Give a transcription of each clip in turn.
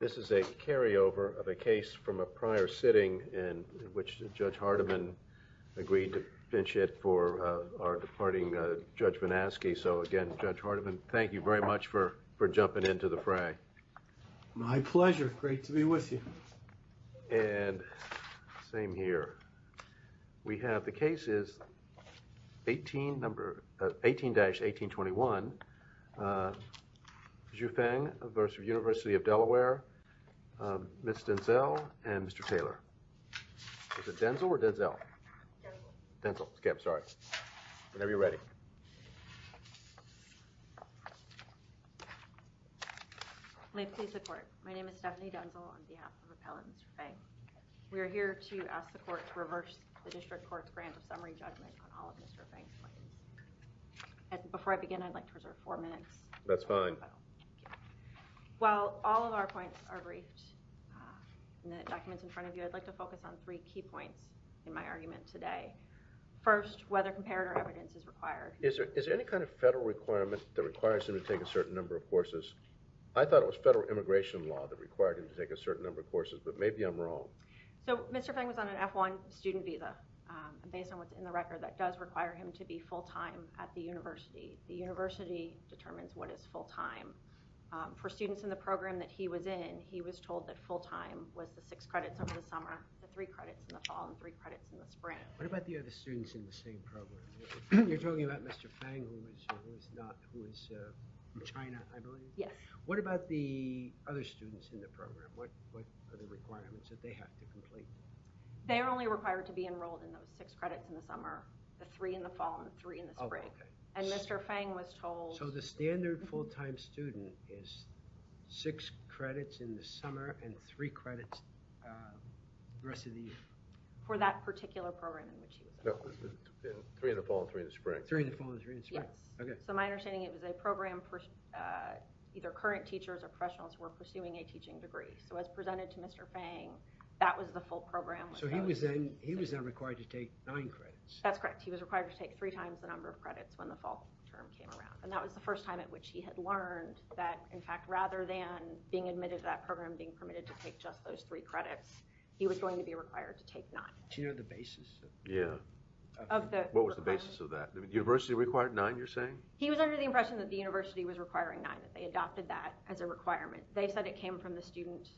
This is a carryover of a case from a prior sitting in which Judge Hardiman agreed to finish it for our departing Judge Manasky. So again, Judge Hardiman, thank you very much for jumping into the fray. My pleasure. Great to be with you. And same here. We have the cases 18-1821, Zhu Feng vs. University of Delaware, Ms. Denzel and Mr. Taylor. Is it Denzel or Denzel? Denzel. Denzel. Okay, I'm sorry. Whenever you're ready. May it please the court. My name is Stephanie Denzel on behalf of Appellant Mr. Feng. We are here to ask the court to reverse the district court's grant of summary judgment on all of Mr. Feng's claims. Before I begin, I'd like to reserve four minutes. That's fine. While all of our points are briefed in the documents in front of you, I'd like to focus on three key points in my argument today. First, whether comparative evidence is required. Is there any kind of federal requirement that requires him to take a certain number of courses? I thought it was federal immigration law that required him to take a certain number of courses, but maybe I'm wrong. So Mr. Feng was on an F-1 student visa. Based on what's in the record, that does require him to be full-time at the university. The university determines what is full-time. For students in the program that he was in, he was told that full-time was the six credits over the summer, the three credits in the fall, and three credits in the spring. What about the other students in the same program? You're talking about Mr. Feng, who is from China, I believe? Yes. What about the other students in the program? What are the requirements that they have to complete? They are only required to be enrolled in those six credits in the summer, the three in the fall, and the three in the spring. And Mr. Feng was told... So the standard full-time student is six credits in the summer and three credits the rest of the year. For that particular program in which he was enrolled. Three in the fall and three in the spring. Three in the fall and three in the spring. Yes. So my understanding is it was a program for either current teachers or professionals who were pursuing a teaching degree. So as presented to Mr. Feng, that was the full program. So he was then required to take nine credits. That's correct. He was required to take three times the number of credits when the fall term came around. And that was the first time at which he had learned that, in fact, rather than being admitted to that program, being permitted to take just those three credits, he was going to be required to take nine. Do you know the basis of that? Yeah. What was the basis of that? The university required nine, you're saying? He was under the impression that the university was requiring nine, that they adopted that as a requirement. They said it came from the student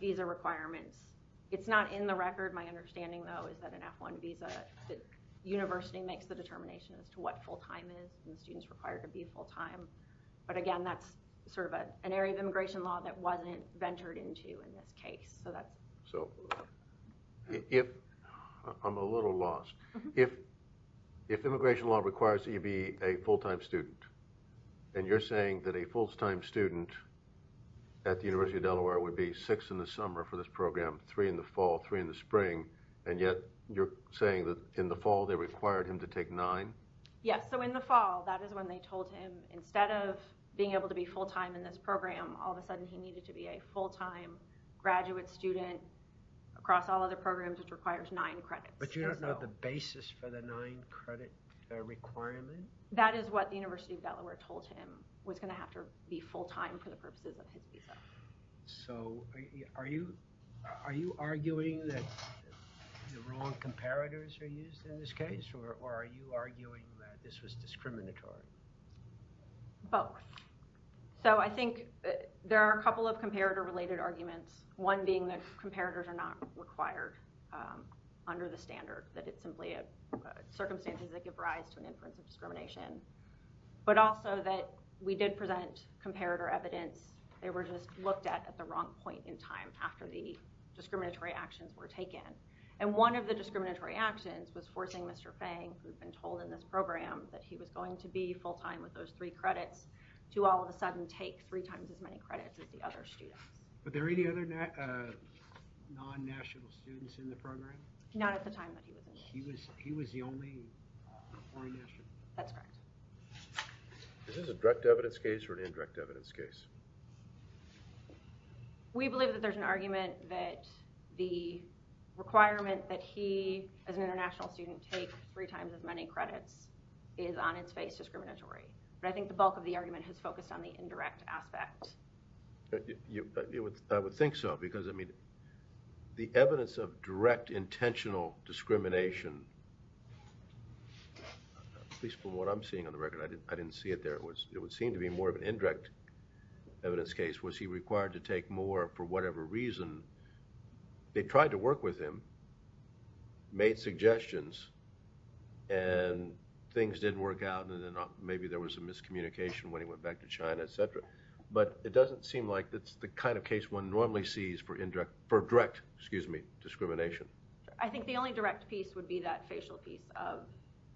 visa requirements. It's not in the record. My understanding, though, is that an F-1 visa, the university makes the determination as to what full-time is and the students required to be full-time. But, again, that's sort of an area of immigration law that wasn't ventured into in this case. So I'm a little lost. If immigration law requires that you be a full-time student and you're saying that a full-time student at the University of Delaware would be six in the summer for this program, three in the fall, three in the spring, and yet you're saying that in the fall they required him to take nine? Yes. So in the fall, that is when they told him instead of being able to be full-time in this program, all of a sudden he needed to be a full-time graduate student across all other programs, which requires nine credits. But you don't know the basis for the nine credit requirement? That is what the University of Delaware told him was going to have to be full-time for the purposes of his visa. So are you arguing that the wrong comparators are used in this case? Or are you arguing that this was discriminatory? Both. So I think there are a couple of comparator-related arguments, one being that comparators are not required under the standard, that it's simply circumstances that give rise to an inference of discrimination, but also that we did present comparator evidence, they were just looked at at the wrong point in time after the discriminatory actions were taken. And one of the discriminatory actions was forcing Mr. Fang, who had been told in this program that he was going to be full-time with those three credits, to all of a sudden take three times as many credits as the other students. Were there any other non-national students in the program? Not at the time that he was in it. He was the only foreign national? That's correct. Is this a direct evidence case or an indirect evidence case? We believe that there's an argument that the requirement that he, as an international student, take three times as many credits is on its face discriminatory. But I think the bulk of the argument has focused on the indirect aspect. I would think so because, I mean, the evidence of direct intentional discrimination, at least from what I'm seeing on the record, I didn't see it there. It would seem to be more of an indirect evidence case. Was he required to take more for whatever reason? They tried to work with him, made suggestions, and things didn't work out, and maybe there was a miscommunication when he went back to China, etc. But it doesn't seem like it's the kind of case one normally sees for direct discrimination. I think the only direct piece would be that facial piece of,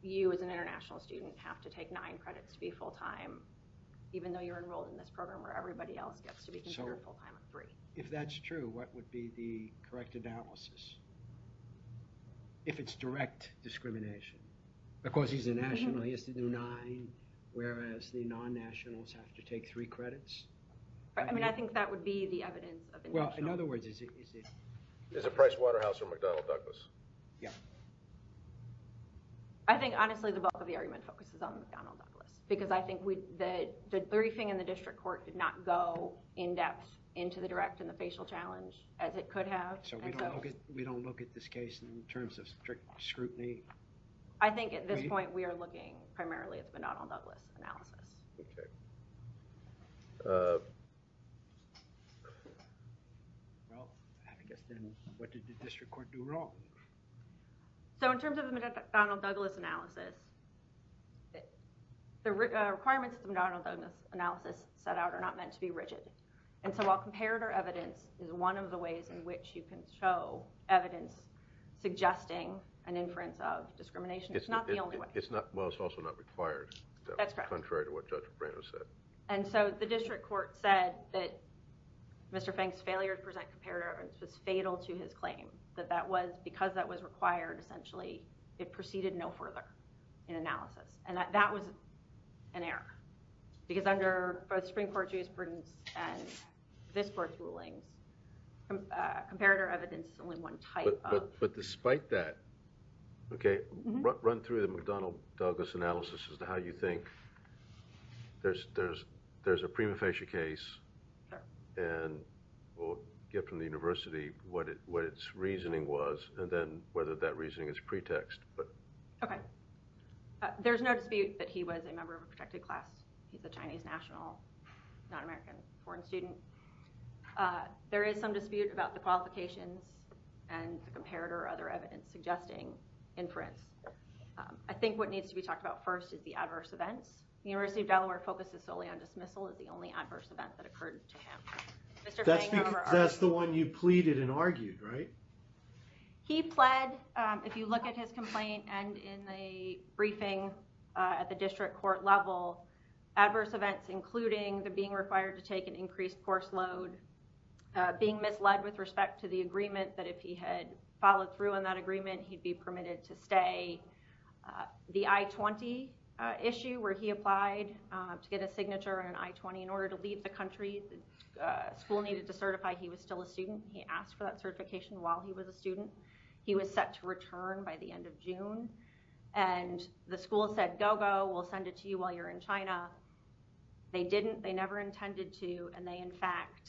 you, as an international student, have to take nine credits to be full-time, even though you're enrolled in this program where everybody else gets to be considered full-time for free. If that's true, what would be the correct analysis? If it's direct discrimination. Of course, he's a national, he has to do nine, whereas the non-nationals have to take three credits. I mean, I think that would be the evidence of intentional. Well, in other words, is it Pricewaterhouse or McDonnell Douglas? Yeah. I think, honestly, the bulk of the argument focuses on McDonnell Douglas because I think the briefing in the district court did not go in-depth into the direct and the facial challenge as it could have. So we don't look at this case in terms of strict scrutiny? I think, at this point, we are looking primarily at the McDonnell Douglas analysis. OK. Well, I guess then, what did the district court do wrong? So in terms of the McDonnell Douglas analysis, the requirements of the McDonnell Douglas analysis set out are not meant to be rigid. And so while comparator evidence is one of the ways in which you can show evidence suggesting an inference of discrimination, it's not the only way. Well, it's also not required. That's correct. Contrary to what Judge Brenner said. And so the district court said that Mr. Fink's failure to present comparator evidence was fatal to his claim, that because that was required, essentially, it proceeded no further in analysis. And that was an error because under both Supreme Court jurisprudence and this court's rulings, comparator evidence is only one type of. But despite that. OK. Run through the McDonnell Douglas analysis as to how you think. There's a prima facie case. Sure. And we'll get from the university what its reasoning was and then whether that reasoning is pretext. OK. There's no dispute that he was a member of a protected class. He's a Chinese national, not American, foreign student. There is some dispute about the qualifications and the comparator or other evidence suggesting inference. I think what needs to be talked about first is the adverse events. University of Delaware focuses solely on dismissal as the only adverse event that occurred to him. That's the one you pleaded and argued, right? He pled. He pled. If you look at his complaint and in the briefing at the district court level, adverse events, including the being required to take an increased course load, being misled with respect to the agreement that if he had followed through on that agreement, he'd be permitted to stay. The I-20 issue where he applied to get a signature on I-20 in order to leave the country. The school needed to certify he was still a student. He asked for that certification while he was a student. He was set to return by the end of June. And the school said, go, go. We'll send it to you while you're in China. They didn't. They never intended to. And they, in fact,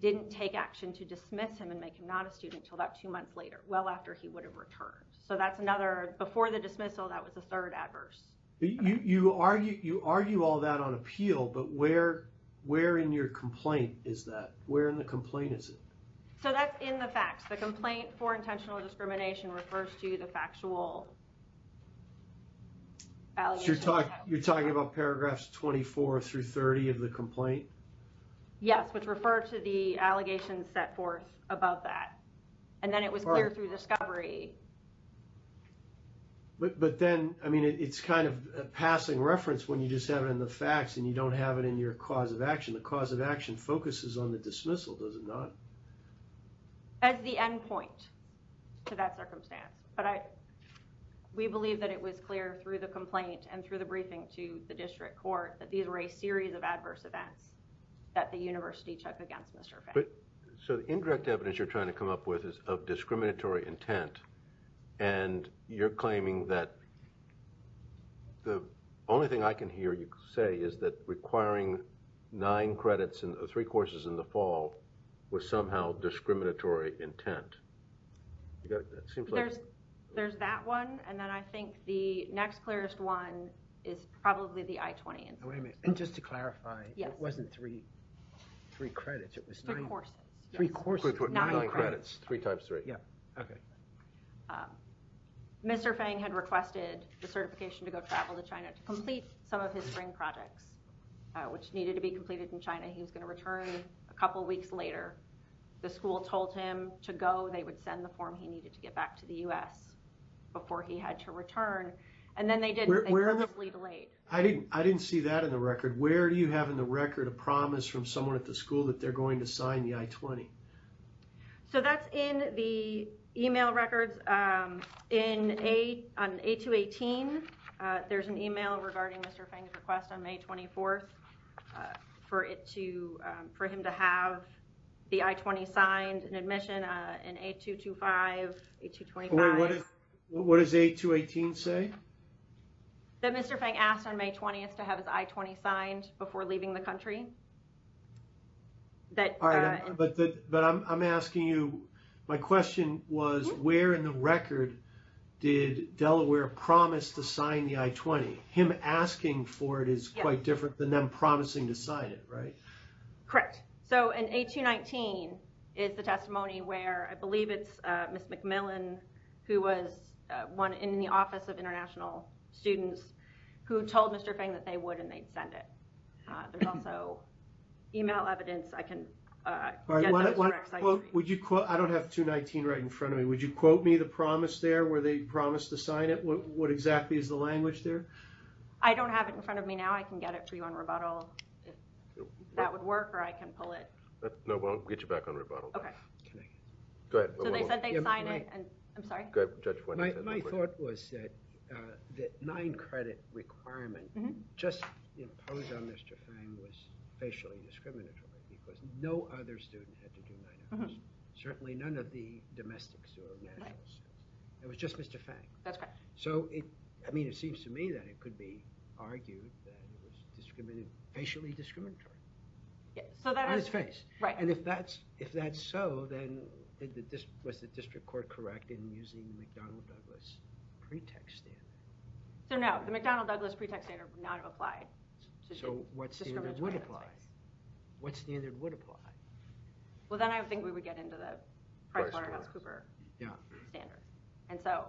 didn't take action to dismiss him and make him not a student until about two months later, well after he would have returned. So that's another. Before the dismissal, that was the third adverse. You argue all that on appeal. But where in your complaint is that? Where in the complaint is it? So that's in the facts. The complaint for intentional discrimination refers to the factual allegations. So you're talking about paragraphs 24 through 30 of the complaint? Yes, which refer to the allegations set forth about that. And then it was clear through discovery. But then, I mean, it's kind of a passing reference when you just have it in the facts and you don't have it in your cause of action. The cause of action focuses on the dismissal, does it not? As the end point to that circumstance. But we believe that it was clear through the complaint and through the briefing to the district court that these were a series of adverse events that the university took against Mr. Finn. So the indirect evidence you're trying to come up with is of discriminatory intent. And you're claiming that the only thing I can hear you say is that requiring nine credits or three courses in the fall was somehow discriminatory intent. There's that one. And then I think the next clearest one is probably the I-20. And just to clarify, it wasn't three credits. It was nine courses. Three courses. Nine credits. Three times three. Yeah, OK. Mr. Fang had requested the certification to go travel to China to complete some of his spring projects, which needed to be completed in China. He was going to return a couple of weeks later. The school told him to go. They would send the form he needed to get back to the US before he had to return. And then they did. They purposely delayed. I didn't see that in the record. Where do you have in the record a promise from someone at the school that they're going to sign the I-20? So that's in the email records. On A218, there's an email regarding Mr. Fang's request on May 24th for him to have the I-20 signed and admission in A225, A225. What does A218 say? That Mr. Fang asked on May 20th to have his I-20 signed before leaving the country. But I'm asking you, my question was, where in the record did Delaware promise to sign the I-20? Him asking for it is quite different than them promising to sign it, right? Correct. So in A219 is the testimony where I believe it's Miss McMillan who was in the Office of International Students who told Mr. Fang that they would and they'd send it. There's also email evidence. I can get those for you. I don't have 219 right in front of me. Would you quote me the promise there where they promised to sign it? What exactly is the language there? I don't have it in front of me now. I can get it for you on rebuttal. That would work, or I can pull it. No, we'll get you back on rebuttal. So they said they'd sign it, and I'm sorry? My thought was that the nine credit requirement just imposed on Mr. Fang was facially discriminatory, because no other student had to do nine hours. Certainly none of the domestic students. It was just Mr. Fang. I mean, it seems to me that it could be argued that it was facially discriminatory on his face. And if that's so, then was the district court correct in using the McDonnell Douglas pretext standard? So no, the McDonnell Douglas pretext standard would not have applied. So what standard would apply? What standard would apply? Well, then I think we would get into the PricewaterhouseCooper standard.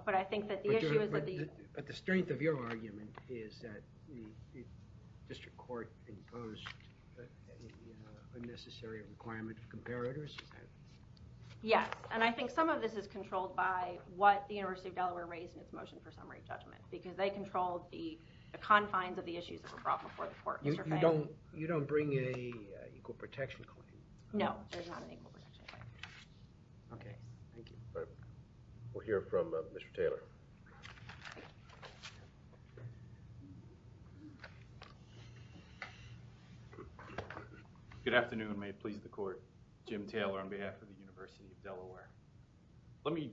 But I think that the issue is that the- But the strength of your argument is that the district court imposed a necessary requirement of comparators? Yes, and I think some of this is controlled by what the University of Delaware raised in its motion for summary judgment, because they controlled the confines of the issues that were brought before the court. You don't bring a equal protection claim? No, there's not an equal protection claim. OK, thank you. We'll hear from Mr. Taylor. Good afternoon. May it please the court. Jim Taylor on behalf of the University of Delaware. Let me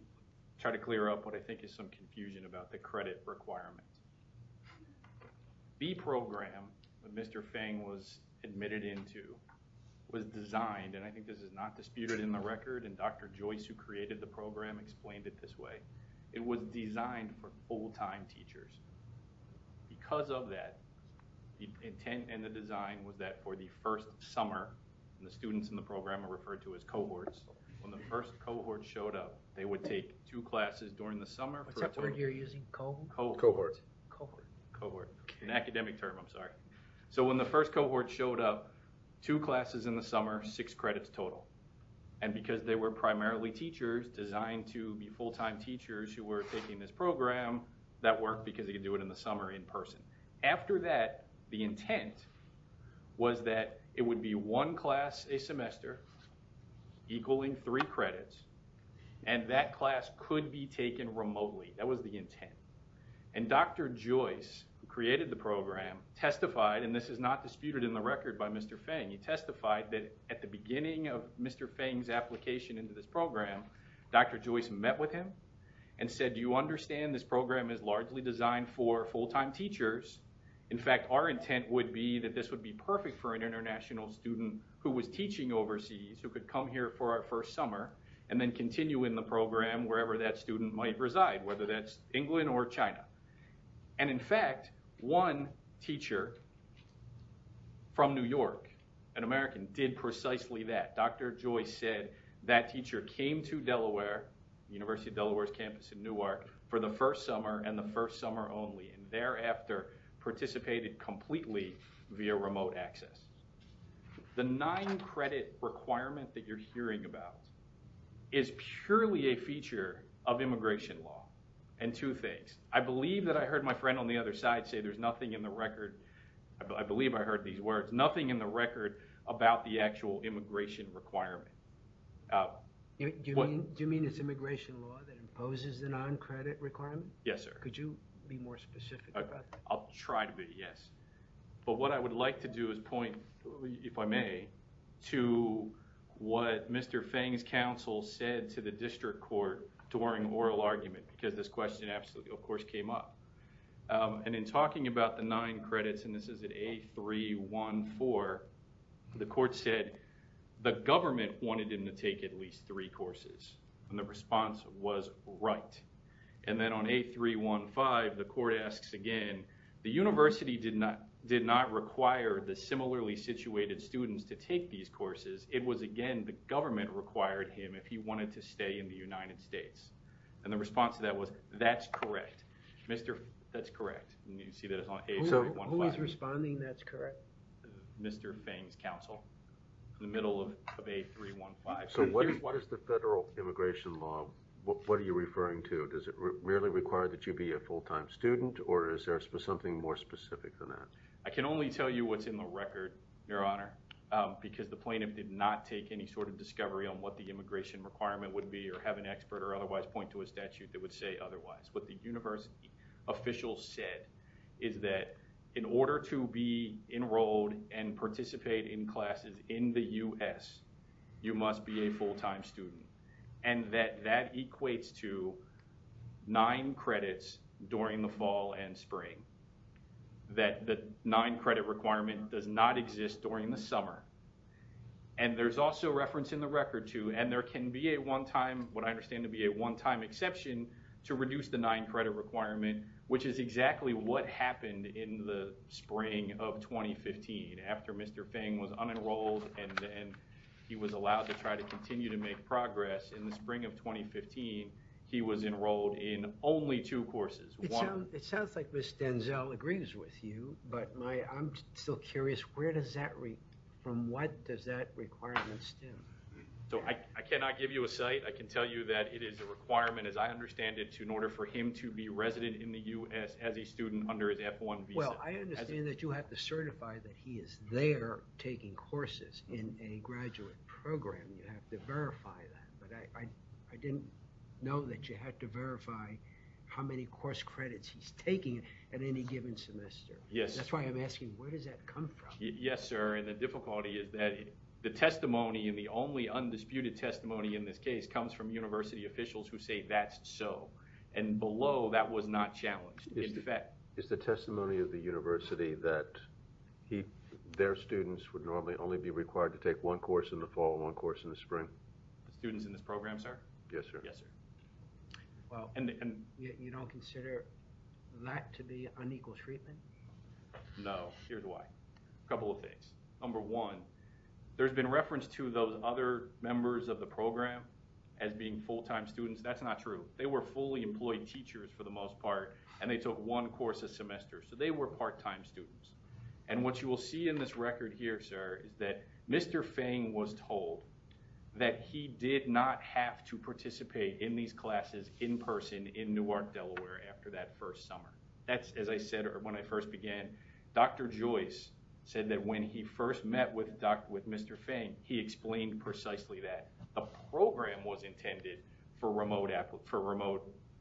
try to clear up what I think is some confusion about the credit requirement. The program that Mr. Fang was admitted into was designed, and I think this is not disputed in the record, and Dr. Joyce, who created the program, explained it this way. It was designed for full-time teachers. Because of that, the intent and the design was that for the first summer, and the students in the program are referred to as cohorts, when the first cohort showed up, they would take two classes during the summer. What's that word you're using? Cohort? Cohort. Cohort. An academic term, I'm sorry. So when the first cohort showed up, two classes in the summer, six credits total. And because they were primarily teachers designed to be full-time teachers who were taking this program, that worked because they could do it in the summer in person. After that, the intent was that it would be one class a semester equaling three credits. And that class could be taken remotely. That was the intent. And Dr. Joyce, who created the program, testified, and this is not disputed in the record by Mr. Feng, he testified that at the beginning of Mr. Feng's application into this program, Dr. Joyce met with him and said, do you understand this program is largely designed for full-time teachers? In fact, our intent would be that this would be perfect for an international student who was teaching overseas, who could come here for our first summer and then continue in the program wherever that student might reside, whether that's England or China. And in fact, one teacher from New York, an American, did precisely that. Dr. Joyce said that teacher came to Delaware, University of Delaware's campus in Newark, for the first summer and the first summer only. And thereafter, participated completely via remote access. The nine credit requirement that you're hearing about is purely a feature of immigration law. And two things. I believe that I heard my friend on the other side say there's nothing in the record. I believe I heard these words. Nothing in the record about the actual immigration requirement. Do you mean it's immigration law that imposes the non-credit requirement? Yes, sir. Could you be more specific about that? I'll try to be, yes. But what I would like to do is point, if I may, to what Mr. Feng's counsel said to the district court during oral argument. Because this question, of course, came up. And in talking about the nine credits, and this is at A314, the court said the government wanted him to take at least three courses. And the response was right. And then on A315, the court asks again, the university did not require the similarly situated students to take these courses. It was, again, the government required him if he wanted to stay in the United States. And the response to that was, that's correct. That's correct. And you see that it's on A315. Who is responding that's correct? Mr. Feng's counsel in the middle of A315. So what is the federal immigration law? What are you referring to? Does it really require that you be a full-time student? Or is there something more specific than that? I can only tell you what's in the record, Your Honor, because the plaintiff did not take any sort of discovery on what the immigration requirement would be or have an expert or otherwise point to a statute that would say otherwise. What the university official said is that in order to be enrolled and participate in classes in the US, you must be a full-time student. And that that equates to nine credits during the fall and spring. That the nine credit requirement does not exist during the summer. And there's also reference in the record, too, and there can be a one-time, what I understand to be a one-time exception, to reduce the nine credit requirement, which is exactly what happened in the spring of 2015. After Mr. Feng was unenrolled and he was allowed to try to continue to make progress in the spring of 2015, he was enrolled in only two courses. It sounds like Ms. Denzel agrees with you, but I'm still curious, from what does that requirement stem? So I cannot give you a site. I can tell you that it is a requirement, as I understand it, in order for him to be resident in the US as a student under his F-1 visa. Well, I understand that you have to certify that he is there taking courses in a graduate program. You have to verify that. But I didn't know that you had to verify how many course credits he's taking at any given semester. That's why I'm asking, where does that come from? Yes, sir. And the difficulty is that the testimony, and the only undisputed testimony in this case, comes from university officials who say that's so. And below, that was not challenged. Is the testimony of the university that their students would normally only be required to take one course in the fall and one course in the spring? The students in this program, sir? Yes, sir. Yes, sir. Well, you don't consider that to be unequal treatment? No. Here's why. A couple of things. Number one, there's been reference to those other members of the program as being full-time students. That's not true. They were fully employed teachers, for the most part, and they took one course a semester. So they were part-time students. And what you will see in this record here, sir, is that Mr. Fang was told that he did not have to participate in these classes in person in Newark, Delaware, after that first summer. That's, as I said when I first began, Dr. Joyce said that when he first met with Mr. Fang, he explained precisely that. The program was intended for remote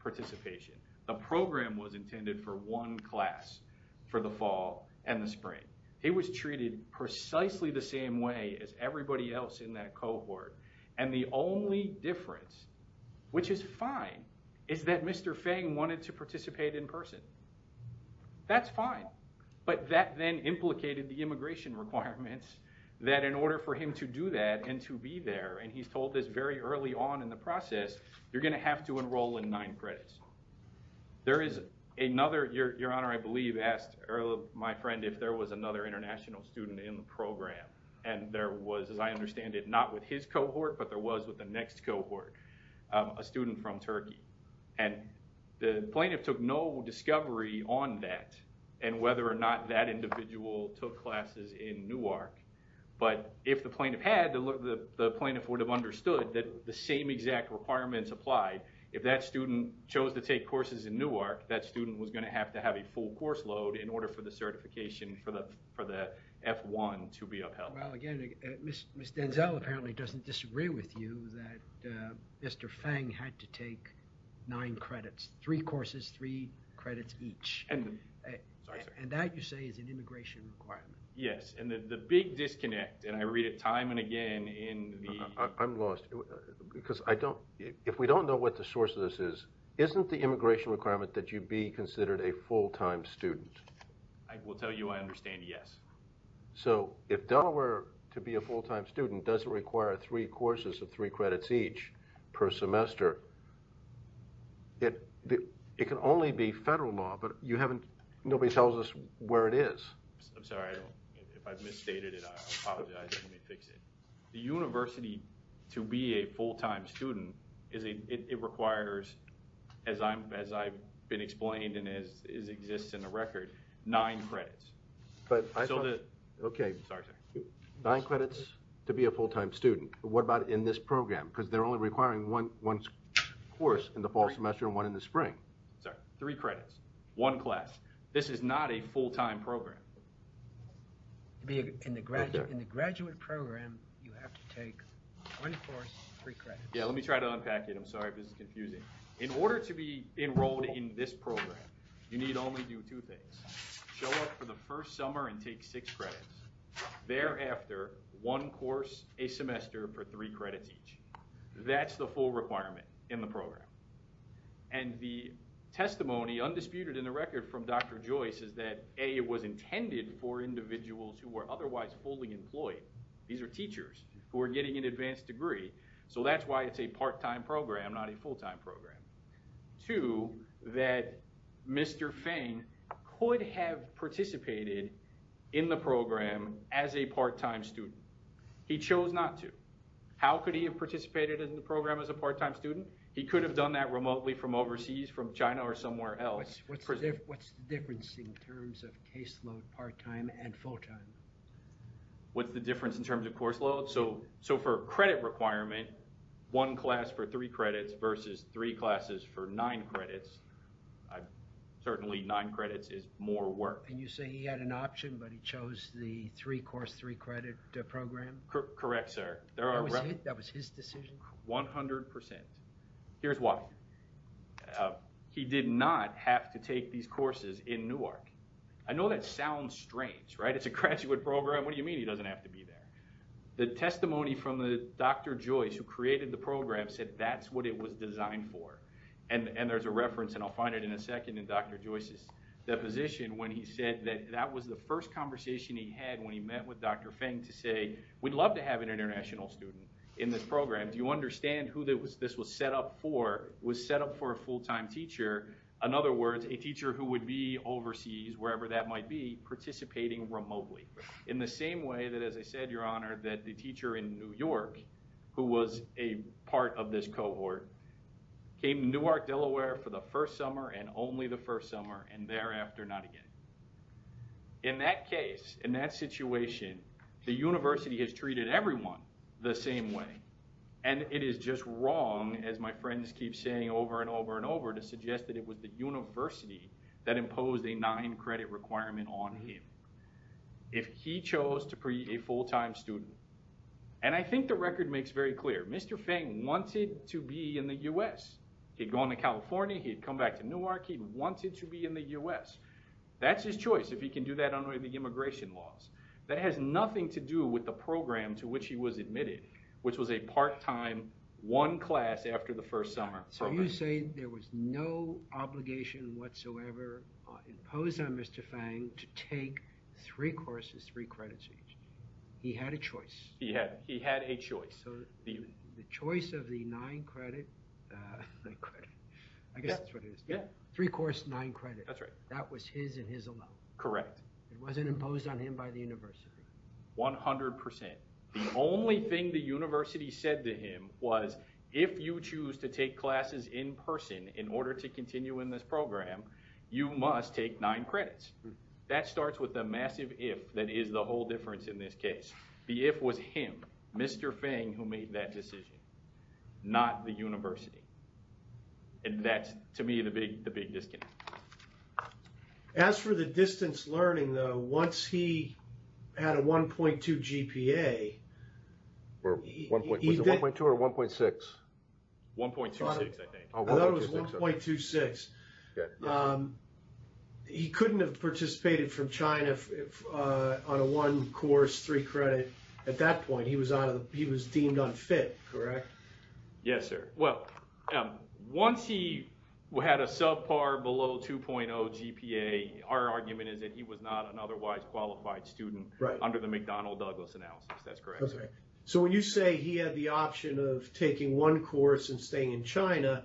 participation. The program was intended for one class for the fall and the spring. He was treated precisely the same way as everybody else in that cohort. And the only difference, which is fine, is that Mr. Fang wanted to participate in person. That's fine. But that then implicated the immigration requirements, that in order for him to do that and to be there, and he's told this very early on in the process, you're going to have to enroll in nine credits. There is another, Your Honor, I believe asked my friend if there was another international student in the program. And there was, as I understand it, not with his cohort, but there was with the next cohort, a student from Turkey. And the plaintiff took no discovery on that and whether or not that individual took classes in Newark. But if the plaintiff had, the plaintiff would have understood that the same exact requirements applied. If that student chose to take courses in Newark, that student was going to have to have a full course load in order for the certification for the F1 to be upheld. Well, again, Ms. Denzel apparently doesn't disagree with you that Mr. Fang had to take nine credits, three courses, three credits each. And that, you say, is an immigration requirement. Yes, and the big disconnect, and I read it time and again in the... I'm lost. Because if we don't know what the source of this is, isn't the immigration requirement that you be considered a full-time student? I will tell you I understand yes. So if Delaware, to be a full-time student, doesn't require three courses of three credits each per semester, it can only be federal law, but you haven't... nobody tells us where it is. I'm sorry, if I've misstated it, I apologize, let me fix it. The university, to be a full-time student, it requires, as I've been explained and as exists in the record, nine credits. Nine credits to be a full-time student. What about in this program? Because they're only requiring one course in the fall semester and one in the spring. Sorry, three credits, one class. This is not a full-time program. In the graduate program, you have to take one course, three credits. Yeah, let me try to unpack it. I'm sorry if this is confusing. In order to be enrolled in this program, you need only do two things. Show up for the first summer and take six credits. Thereafter, one course a semester for three credits each. That's the full requirement in the program. And the testimony, undisputed in the record, from Dr. Joyce is that A, it was intended for individuals who were otherwise fully employed. These are teachers who are getting an advanced degree. So that's why it's a part-time program, not a full-time program. Two, that Mr. Fain could have participated in the program as a part-time student. He chose not to. How could he have participated in the program as a part-time student? He could have done that remotely from overseas, from China or somewhere else. What's the difference in terms of caseload, part-time, and full-time? What's the difference in terms of course load? So for a credit requirement, one class for three credits versus three classes for nine credits, certainly nine credits is more work. And you say he had an option, but he chose the three-course, three-credit program? Correct, sir. That was his decision? 100%. Here's why. He did not have to take these courses in Newark. I know that sounds strange, right? It's a graduate program. What do you mean he doesn't have to be there? The testimony from Dr. Joyce, who created the program, said that's what it was designed for. And there's a reference, and I'll find it in a second, in Dr. Joyce's deposition when he said that that was the first conversation he had when he met with Dr. Fain to say, we'd love to have an international student in this program. Do you understand who this was set up for? It was set up for a full-time teacher. In other words, a teacher who would be overseas, wherever that might be, participating remotely. In the same way that, as I said, Your Honor, that the teacher in New York, who was a part of this cohort, came to Newark, Delaware for the first summer and only the first summer, and thereafter not again. In that case, in that situation, the university has treated everyone the same way. And it is just wrong, as my friends keep saying over and over and over, to suggest that it was the university that imposed a nine-credit requirement on him if he chose to be a full-time student. And I think the record makes very clear. Mr. Fain wanted to be in the U.S. He'd gone to California, he'd come back to Newark, he wanted to be in the U.S. That's his choice if he can do that under the immigration laws. That has nothing to do with the program to which he was admitted, which was a part-time, one class after the first summer program. So you say there was no obligation whatsoever imposed on Mr. Fain to take three courses, three credits each. He had a choice. He had a choice. So the choice of the nine-credit, I guess that's what it is, three courses, nine credits, that was his and his alone. Correct. It wasn't imposed on him by the university. One hundred percent. The only thing the university said to him was, if you choose to take classes in person in order to continue in this program, you must take nine credits. That starts with a massive if that is the whole difference in this case. The if was him, Mr. Fain, who made that decision, not the university. And that's, to me, the big disconnect. As for the distance learning, though, once he had a 1.2 GPA, Was it 1.2 or 1.6? 1.26, I think. I thought it was 1.26. He couldn't have participated from China on a one course, three credit. At that point, he was deemed unfit, correct? Yes, sir. Well, once he had a subpar below 2.0 GPA, our argument is that he was not an otherwise qualified student under the McDonnell-Douglas analysis. That's correct. So when you say he had the option of taking one course and staying in China,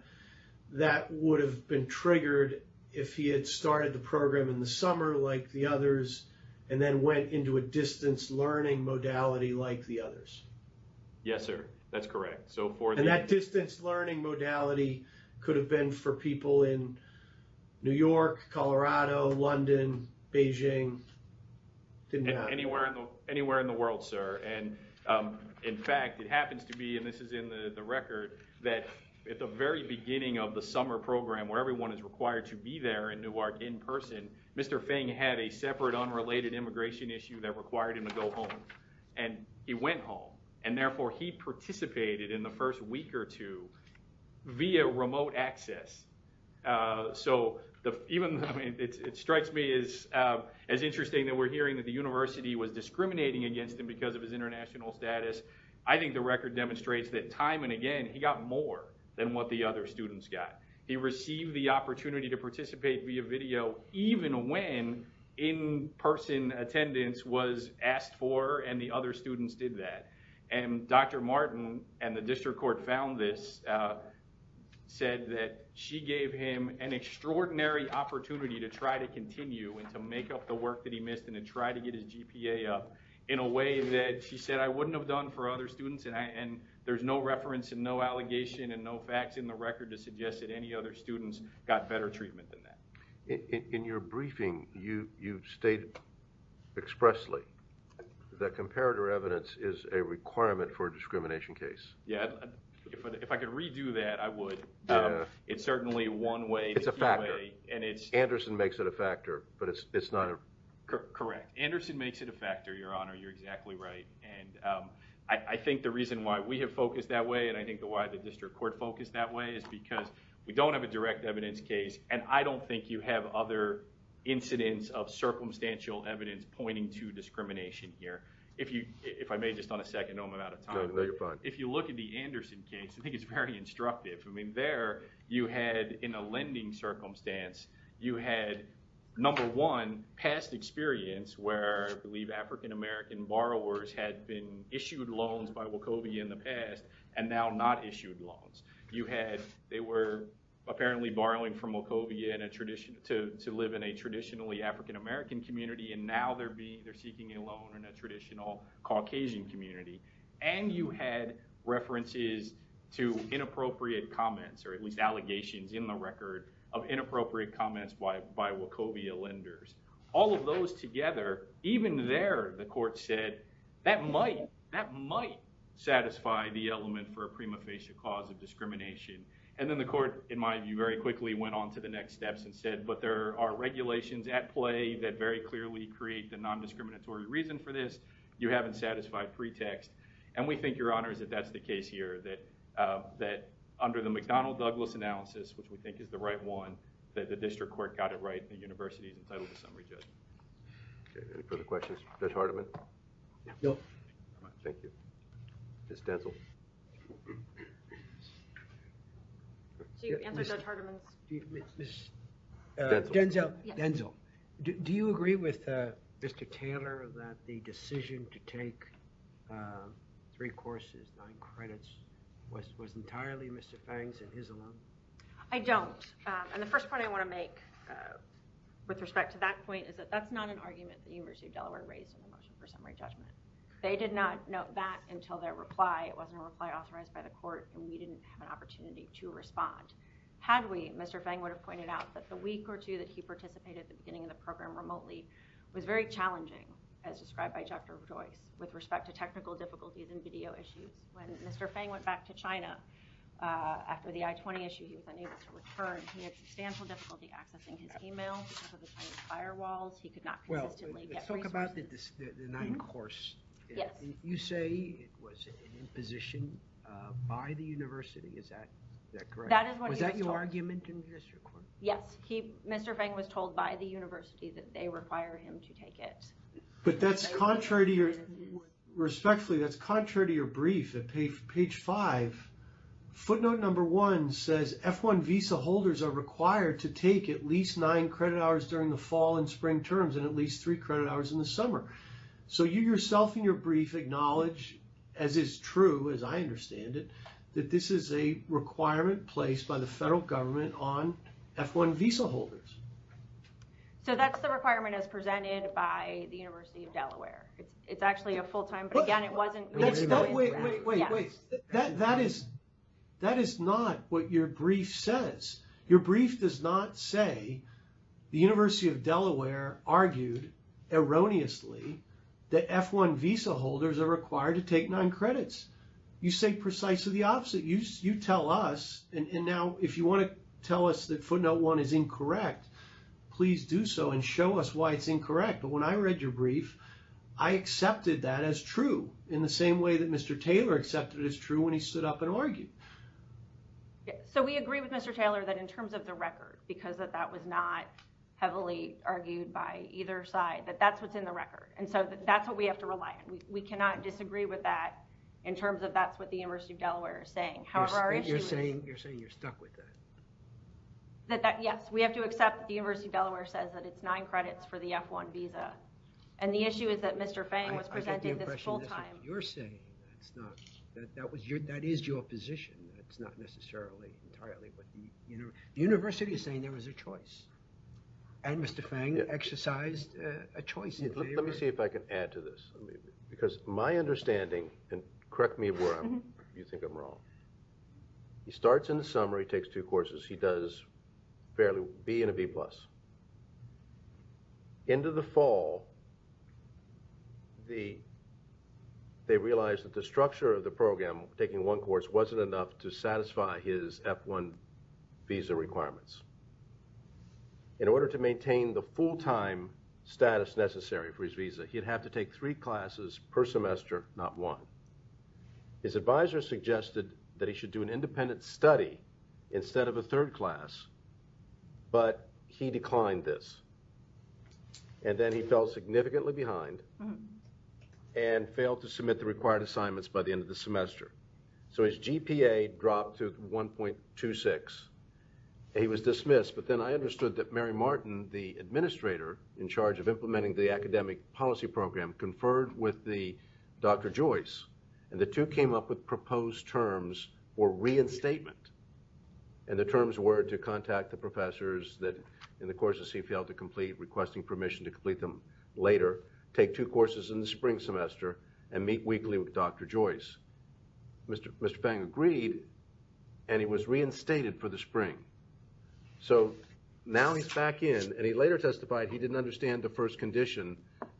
that would have been triggered if he had started the program in the summer like the others and then went into a distance learning modality like the others. Yes, sir. That's correct. And that distance learning modality could have been for people in New York, Colorado, London, Beijing. Anywhere in the world, sir. And in fact, it happens to be, and this is in the record, that at the very beginning of the summer program, where everyone is required to be there in Newark in person, Mr. Feng had a separate unrelated immigration issue that required him to go home. And he went home. And therefore, he participated in the first week or two via remote access. So it strikes me as interesting that we're hearing that the university was discriminating against him because of his international status. I think the record demonstrates that time and again, he got more than what the other students got. He received the opportunity to participate via video, even when in-person attendance was asked for and the other students did that. And Dr. Martin and the district court found this, said that she gave him an extraordinary opportunity to try to continue and to make up the work that he missed and to try to get his GPA up in a way that she said, I wouldn't have done for other students. And there's no reference and no allegation and no facts in the record to suggest that any other students got better treatment than that. In your briefing, you state expressly that comparator evidence is a requirement for a discrimination case. Yeah. If I could redo that, I would. It's certainly one way. It's a factor. And it's... Anderson makes it a factor, but it's not a... Correct. Anderson makes it a factor, Your Honor. You're exactly right. And I think the reason why we have focused that way and I think why the district court focused that way is because we don't have a direct evidence case. And I don't think you have other incidents of circumstantial evidence pointing to discrimination here. If I may, just on a second, I'm out of time. No, you're fine. If you look at the Anderson case, I think it's very instructive. I mean, there you had, in a lending circumstance, you had, number one, past experience where I believe African-American borrowers had been issued loans by Wachovia in the past and now not issued loans. You had... They were apparently borrowing from Wachovia to live in a traditionally African-American community and now they're seeking a loan in a traditional Caucasian community. And you had references to inappropriate comments, or at least allegations in the record, of inappropriate comments by Wachovia lenders. All of those together, even there, the court said, that might satisfy the element for a prima facie cause of discrimination. And then the court, in my view, very quickly went on to the next steps and said, but there are regulations at play that very clearly create the non-discriminatory reason for this. You haven't satisfied pretext. And we think, Your Honor, that that's the case here, that under the McDonnell-Douglas analysis, which we think is the right one, that the district court got it right, the university is entitled to summary judgment. Okay, any further questions? Judge Hardiman? No. Thank you. Ms. Denzel? Do you answer Judge Hardiman's... Ms. Denzel. Do you agree with Mr. Taylor that the decision to take three courses, nine credits, was entirely Mr. Fang's and his alone? I don't. And the first point I want to make, with respect to that point, is that that's not an argument the University of Delaware raised in the motion for summary judgment. They did not note that until their reply. It wasn't a reply authorized by the court, and we didn't have an opportunity to respond. Had we, Mr. Fang would have pointed out that the week or two that he participated at the beginning of the program remotely was very challenging, as described by Dr. Joyce, with respect to technical difficulties and video issues. When Mr. Fang went back to China after the I-20 issue, he was unable to return. He had substantial difficulty accessing his email because of the Chinese firewalls. He could not consistently get resources. Well, let's talk about the ninth course. You say it was an imposition by the university. Is that correct? That is what he was told. Yes. Mr. Fang was told by the university that they require him to take it. But that's contrary to your... Respectfully, that's contrary to your brief at page five. Footnote number one says F-1 visa holders are required to take at least nine credit hours during the fall and spring terms, and at least three credit hours in the summer. So you yourself in your brief acknowledge, as is true, as I understand it, that this is a requirement placed by the federal government on F-1 visa holders. So that's the requirement as presented by the University of Delaware. It's actually a full-time... Wait, wait, wait. That is not what your brief says. Your brief does not say the University of Delaware argued erroneously that F-1 visa holders are required to take nine credits. You say precisely the opposite. You tell us, and now if you want to tell us that footnote one is incorrect, please do so and show us why it's incorrect. But when I read your brief, I accepted that as true in the same way that Mr. Taylor accepted it as true when he stood up and argued. So we agree with Mr. Taylor that in terms of the record, because that was not heavily argued by either side, that that's what's in the record. And so that's what we have to rely on. We cannot disagree with that in terms of that's what the University of Delaware is saying. However, our issue is... You're saying you're stuck with that. Yes, we have to accept that the University of Delaware says that it's nine credits for the F-1 visa. And the issue is that Mr. Fang was presenting this full-time. That's not what you're saying. That is your position. That's not necessarily entirely what the... The University is saying there was a choice. And Mr. Fang exercised a choice. Let me see if I can add to this. Because my understanding... And correct me if you think I'm wrong. He starts in the summer. He takes two courses. He does fairly... B and a B+. End of the fall, they realized that the structure of the program, taking one course, wasn't enough to satisfy his F-1 visa requirements. In order to maintain the full-time status necessary for his visa, he'd have to take three classes per semester, not one. His advisor suggested that he should do an independent study instead of a third class. But he declined this. And then he fell significantly behind and failed to submit the required assignments by the end of the semester. So his GPA dropped to 1.26. He was dismissed. But then I understood that Mary Martin, the administrator in charge of implementing the academic policy program, conferred with Dr. Joyce. And the two came up with proposed terms for reinstatement. And the terms were to contact the professors that in the courses he failed to complete, requesting permission to complete them later, take two courses in the spring semester, and meet weekly with Dr. Joyce. Mr. Fang agreed, and he was reinstated for the spring. So now he's back in, and he later testified he didn't understand the first condition,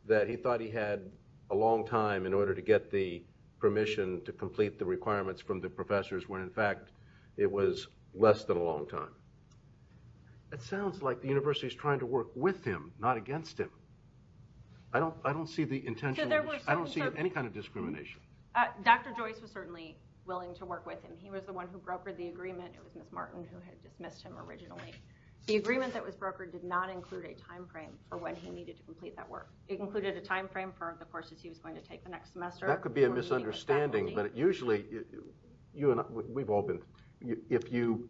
that he thought he had a long time in order to get the permission to complete the requirements from the professors when in fact it was less than a long time. It sounds like the university's trying to work with him, not against him. I don't see the intention. I don't see any kind of discrimination. Dr. Joyce was certainly willing to work with him. He was the one who brokered the agreement. It was Ms. Martin who had dismissed him originally. The agreement that was brokered did not include a time frame for when he needed to complete that work. It included a time frame for the courses he was going to take the next semester. That could be a misunderstanding, but usually you and I, we've all been, if you,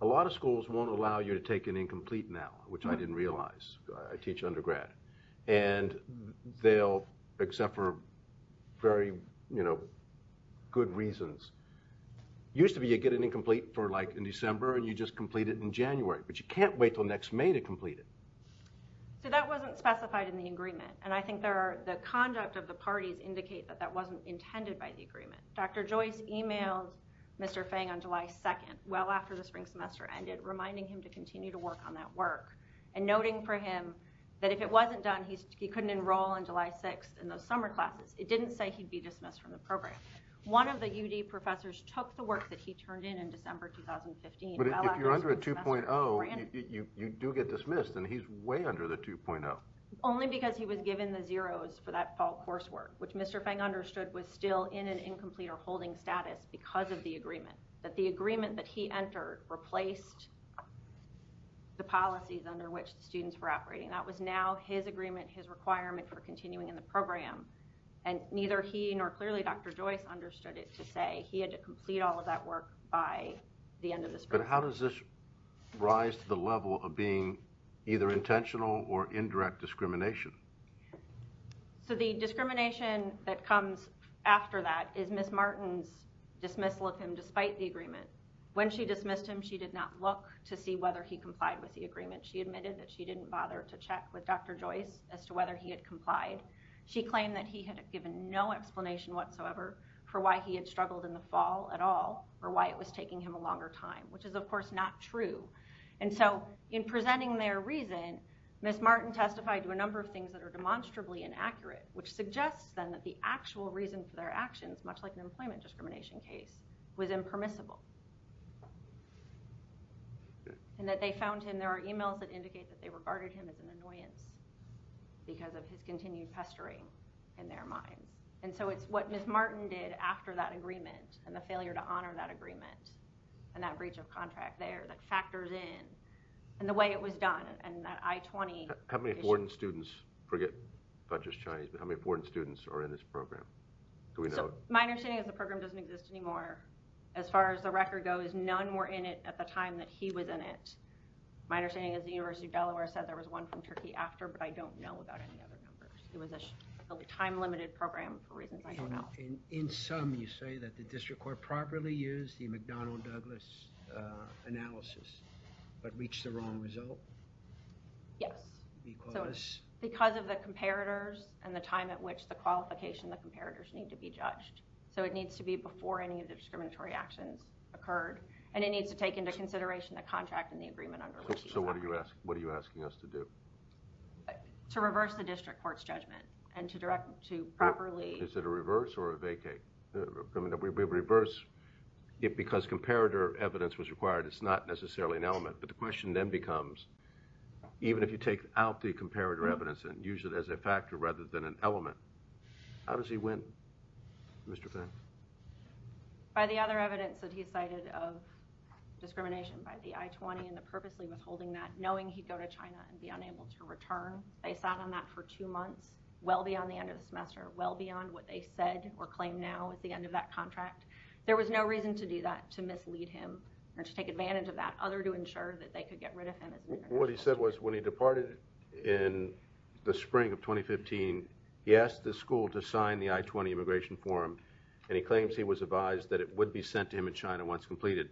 a lot of schools won't allow you to take an incomplete now, which I didn't realize. I teach undergrad. And they'll, except for very, you know, good reasons. Used to be you'd get an incomplete for, like, in December and you'd just complete it in January. But you can't wait until next May to complete it. So that wasn't specified in the agreement. And I think the conduct of the parties indicate that that wasn't intended by the agreement. Dr. Joyce emailed Mr. Fang on July 2nd, well after the spring semester ended, reminding him to continue to work on that work and noting for him that if it wasn't done, he couldn't enroll on July 6th in those summer classes. It didn't say he'd be dismissed from the program. One of the UD professors took the work that he turned in in December 2015 But if you're under a 2.0, you do get dismissed. And he's way under the 2.0. Only because he was given the zeros for that fall coursework, which Mr. Fang understood was still in an incomplete or holding status because of the agreement. That the agreement that he entered replaced the policies under which the students were operating. That was now his agreement, his requirement for continuing in the program. And neither he nor clearly Dr. Joyce understood it to say he had to complete all of that work by the end of the spring. But how does this rise to the level of being either intentional or indirect discrimination? So the discrimination that comes after that is Ms. Martin's dismissal of him despite the agreement. When she dismissed him, she did not look to see whether he complied with the agreement. She admitted that she didn't bother to check with Dr. Joyce as to whether he had complied. She claimed that he had given no explanation whatsoever for why he had struggled in the fall at all or why it was taking him a longer time, which is of course not true. And so in presenting their reason, Ms. Martin testified to a number of things that are demonstrably inaccurate, which suggests then that the actual reason for their actions, much like an employment discrimination case, was impermissible. And that they found him, there are no evidence because of his continued pestering in their minds. And so it's what Ms. Martin did after that agreement and the failure to honor that agreement and that breach of contract there that factors in and the way it was done and that I-20 issue. How many foreign students, forget not just Chinese, but how many foreign students are in this program? So my understanding is the program doesn't exist anymore. As far as the record goes, none were in it at the time that he was in it. My understanding is the University of Delaware said there was one from Turkey after, but I don't know about any other numbers. It was a time-limited program for reasons I don't know. In sum, you say that the district court properly used the McDonnell-Douglas analysis, but reached the wrong result? Yes. Because of the comparators and the time at which the qualification, the comparators need to be judged. So it needs to be before any of the discriminatory actions occurred, and it needs to take into consideration the contract and the agreement under which he's acting. So what are you asking us to do? To reverse the district court's judgment and to directly, to properly Is it a reverse or a vacate? I mean, we reverse it because comparator evidence was required. It's not necessarily an element, but the question then becomes, even if you take out the comparator evidence and use it as a factor rather than an element, how does he win? Mr. Fenn? By the other evidence that he cited of discrimination by the I-20 and the purposely withholding that, knowing he'd go to China and be unable to return. They sat on that for two months, well beyond the end of the semester, well beyond what they said or claim now at the end of that contract. There was no reason to do that, to mislead him, or to take advantage of that, other to ensure that they could get rid of him. What he said was, when he departed in the spring of 2015, he asked the school to sign the I-20 immigration form, and he claims he was advised that it would be sent to him in China once completed.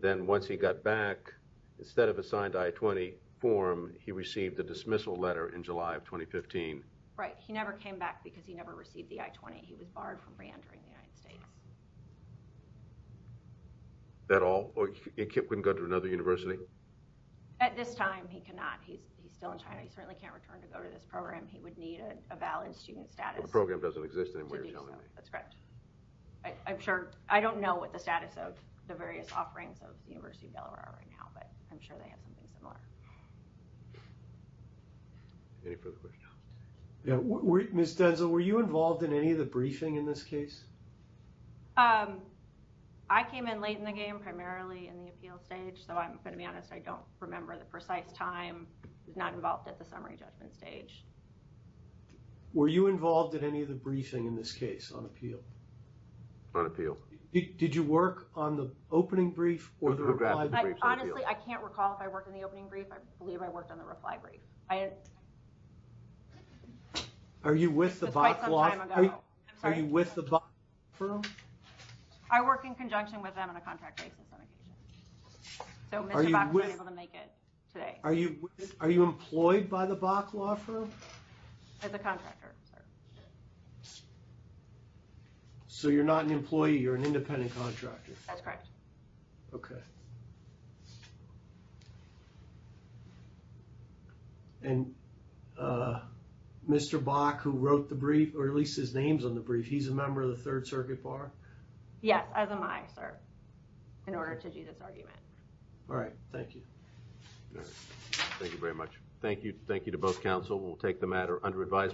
Then once he got back, instead of a signed I-20 form, he received a dismissal letter in July of 2015. Right. He never came back because he never received the I-20. He was barred from re-entering the United States. That all? He couldn't go to another university? At this time, he cannot. He's still in China. He certainly can't return to go to this program. He would need a valid student status to do so. The program doesn't exist anymore, you're telling me. That's correct. I don't know what the status of the various offerings of the University of Delaware are right now, but I'm sure they have something similar. Any further questions? Ms. Denzel, were you involved in any of the briefing in this case? I came in late in the game, primarily in the appeal stage, so I'm going to be honest, I don't remember the precise time. I was not involved at the summary judgment stage. Were you involved in any of the briefing in this case, on appeal? On appeal. Did you work on the opening brief or the reply brief? Honestly, I can't recall if I worked on the opening brief. I believe I worked on the reply brief. Are you with the Bok Law Firm? I work in conjunction with them on a contract basis on occasion. today. Are you employed by the Bok Law Firm? As a contractor, sir. So you're not an employee, you're an independent contractor? That's correct. And Mr. Bok, who wrote the brief, or at least his name's on the brief, he's a member of the Third Circuit Bar? Yes, as am I, sir. In order to do this argument. Alright, thank you. Thank you very much. Thank you to both counsel. We'll take the matter under advisement.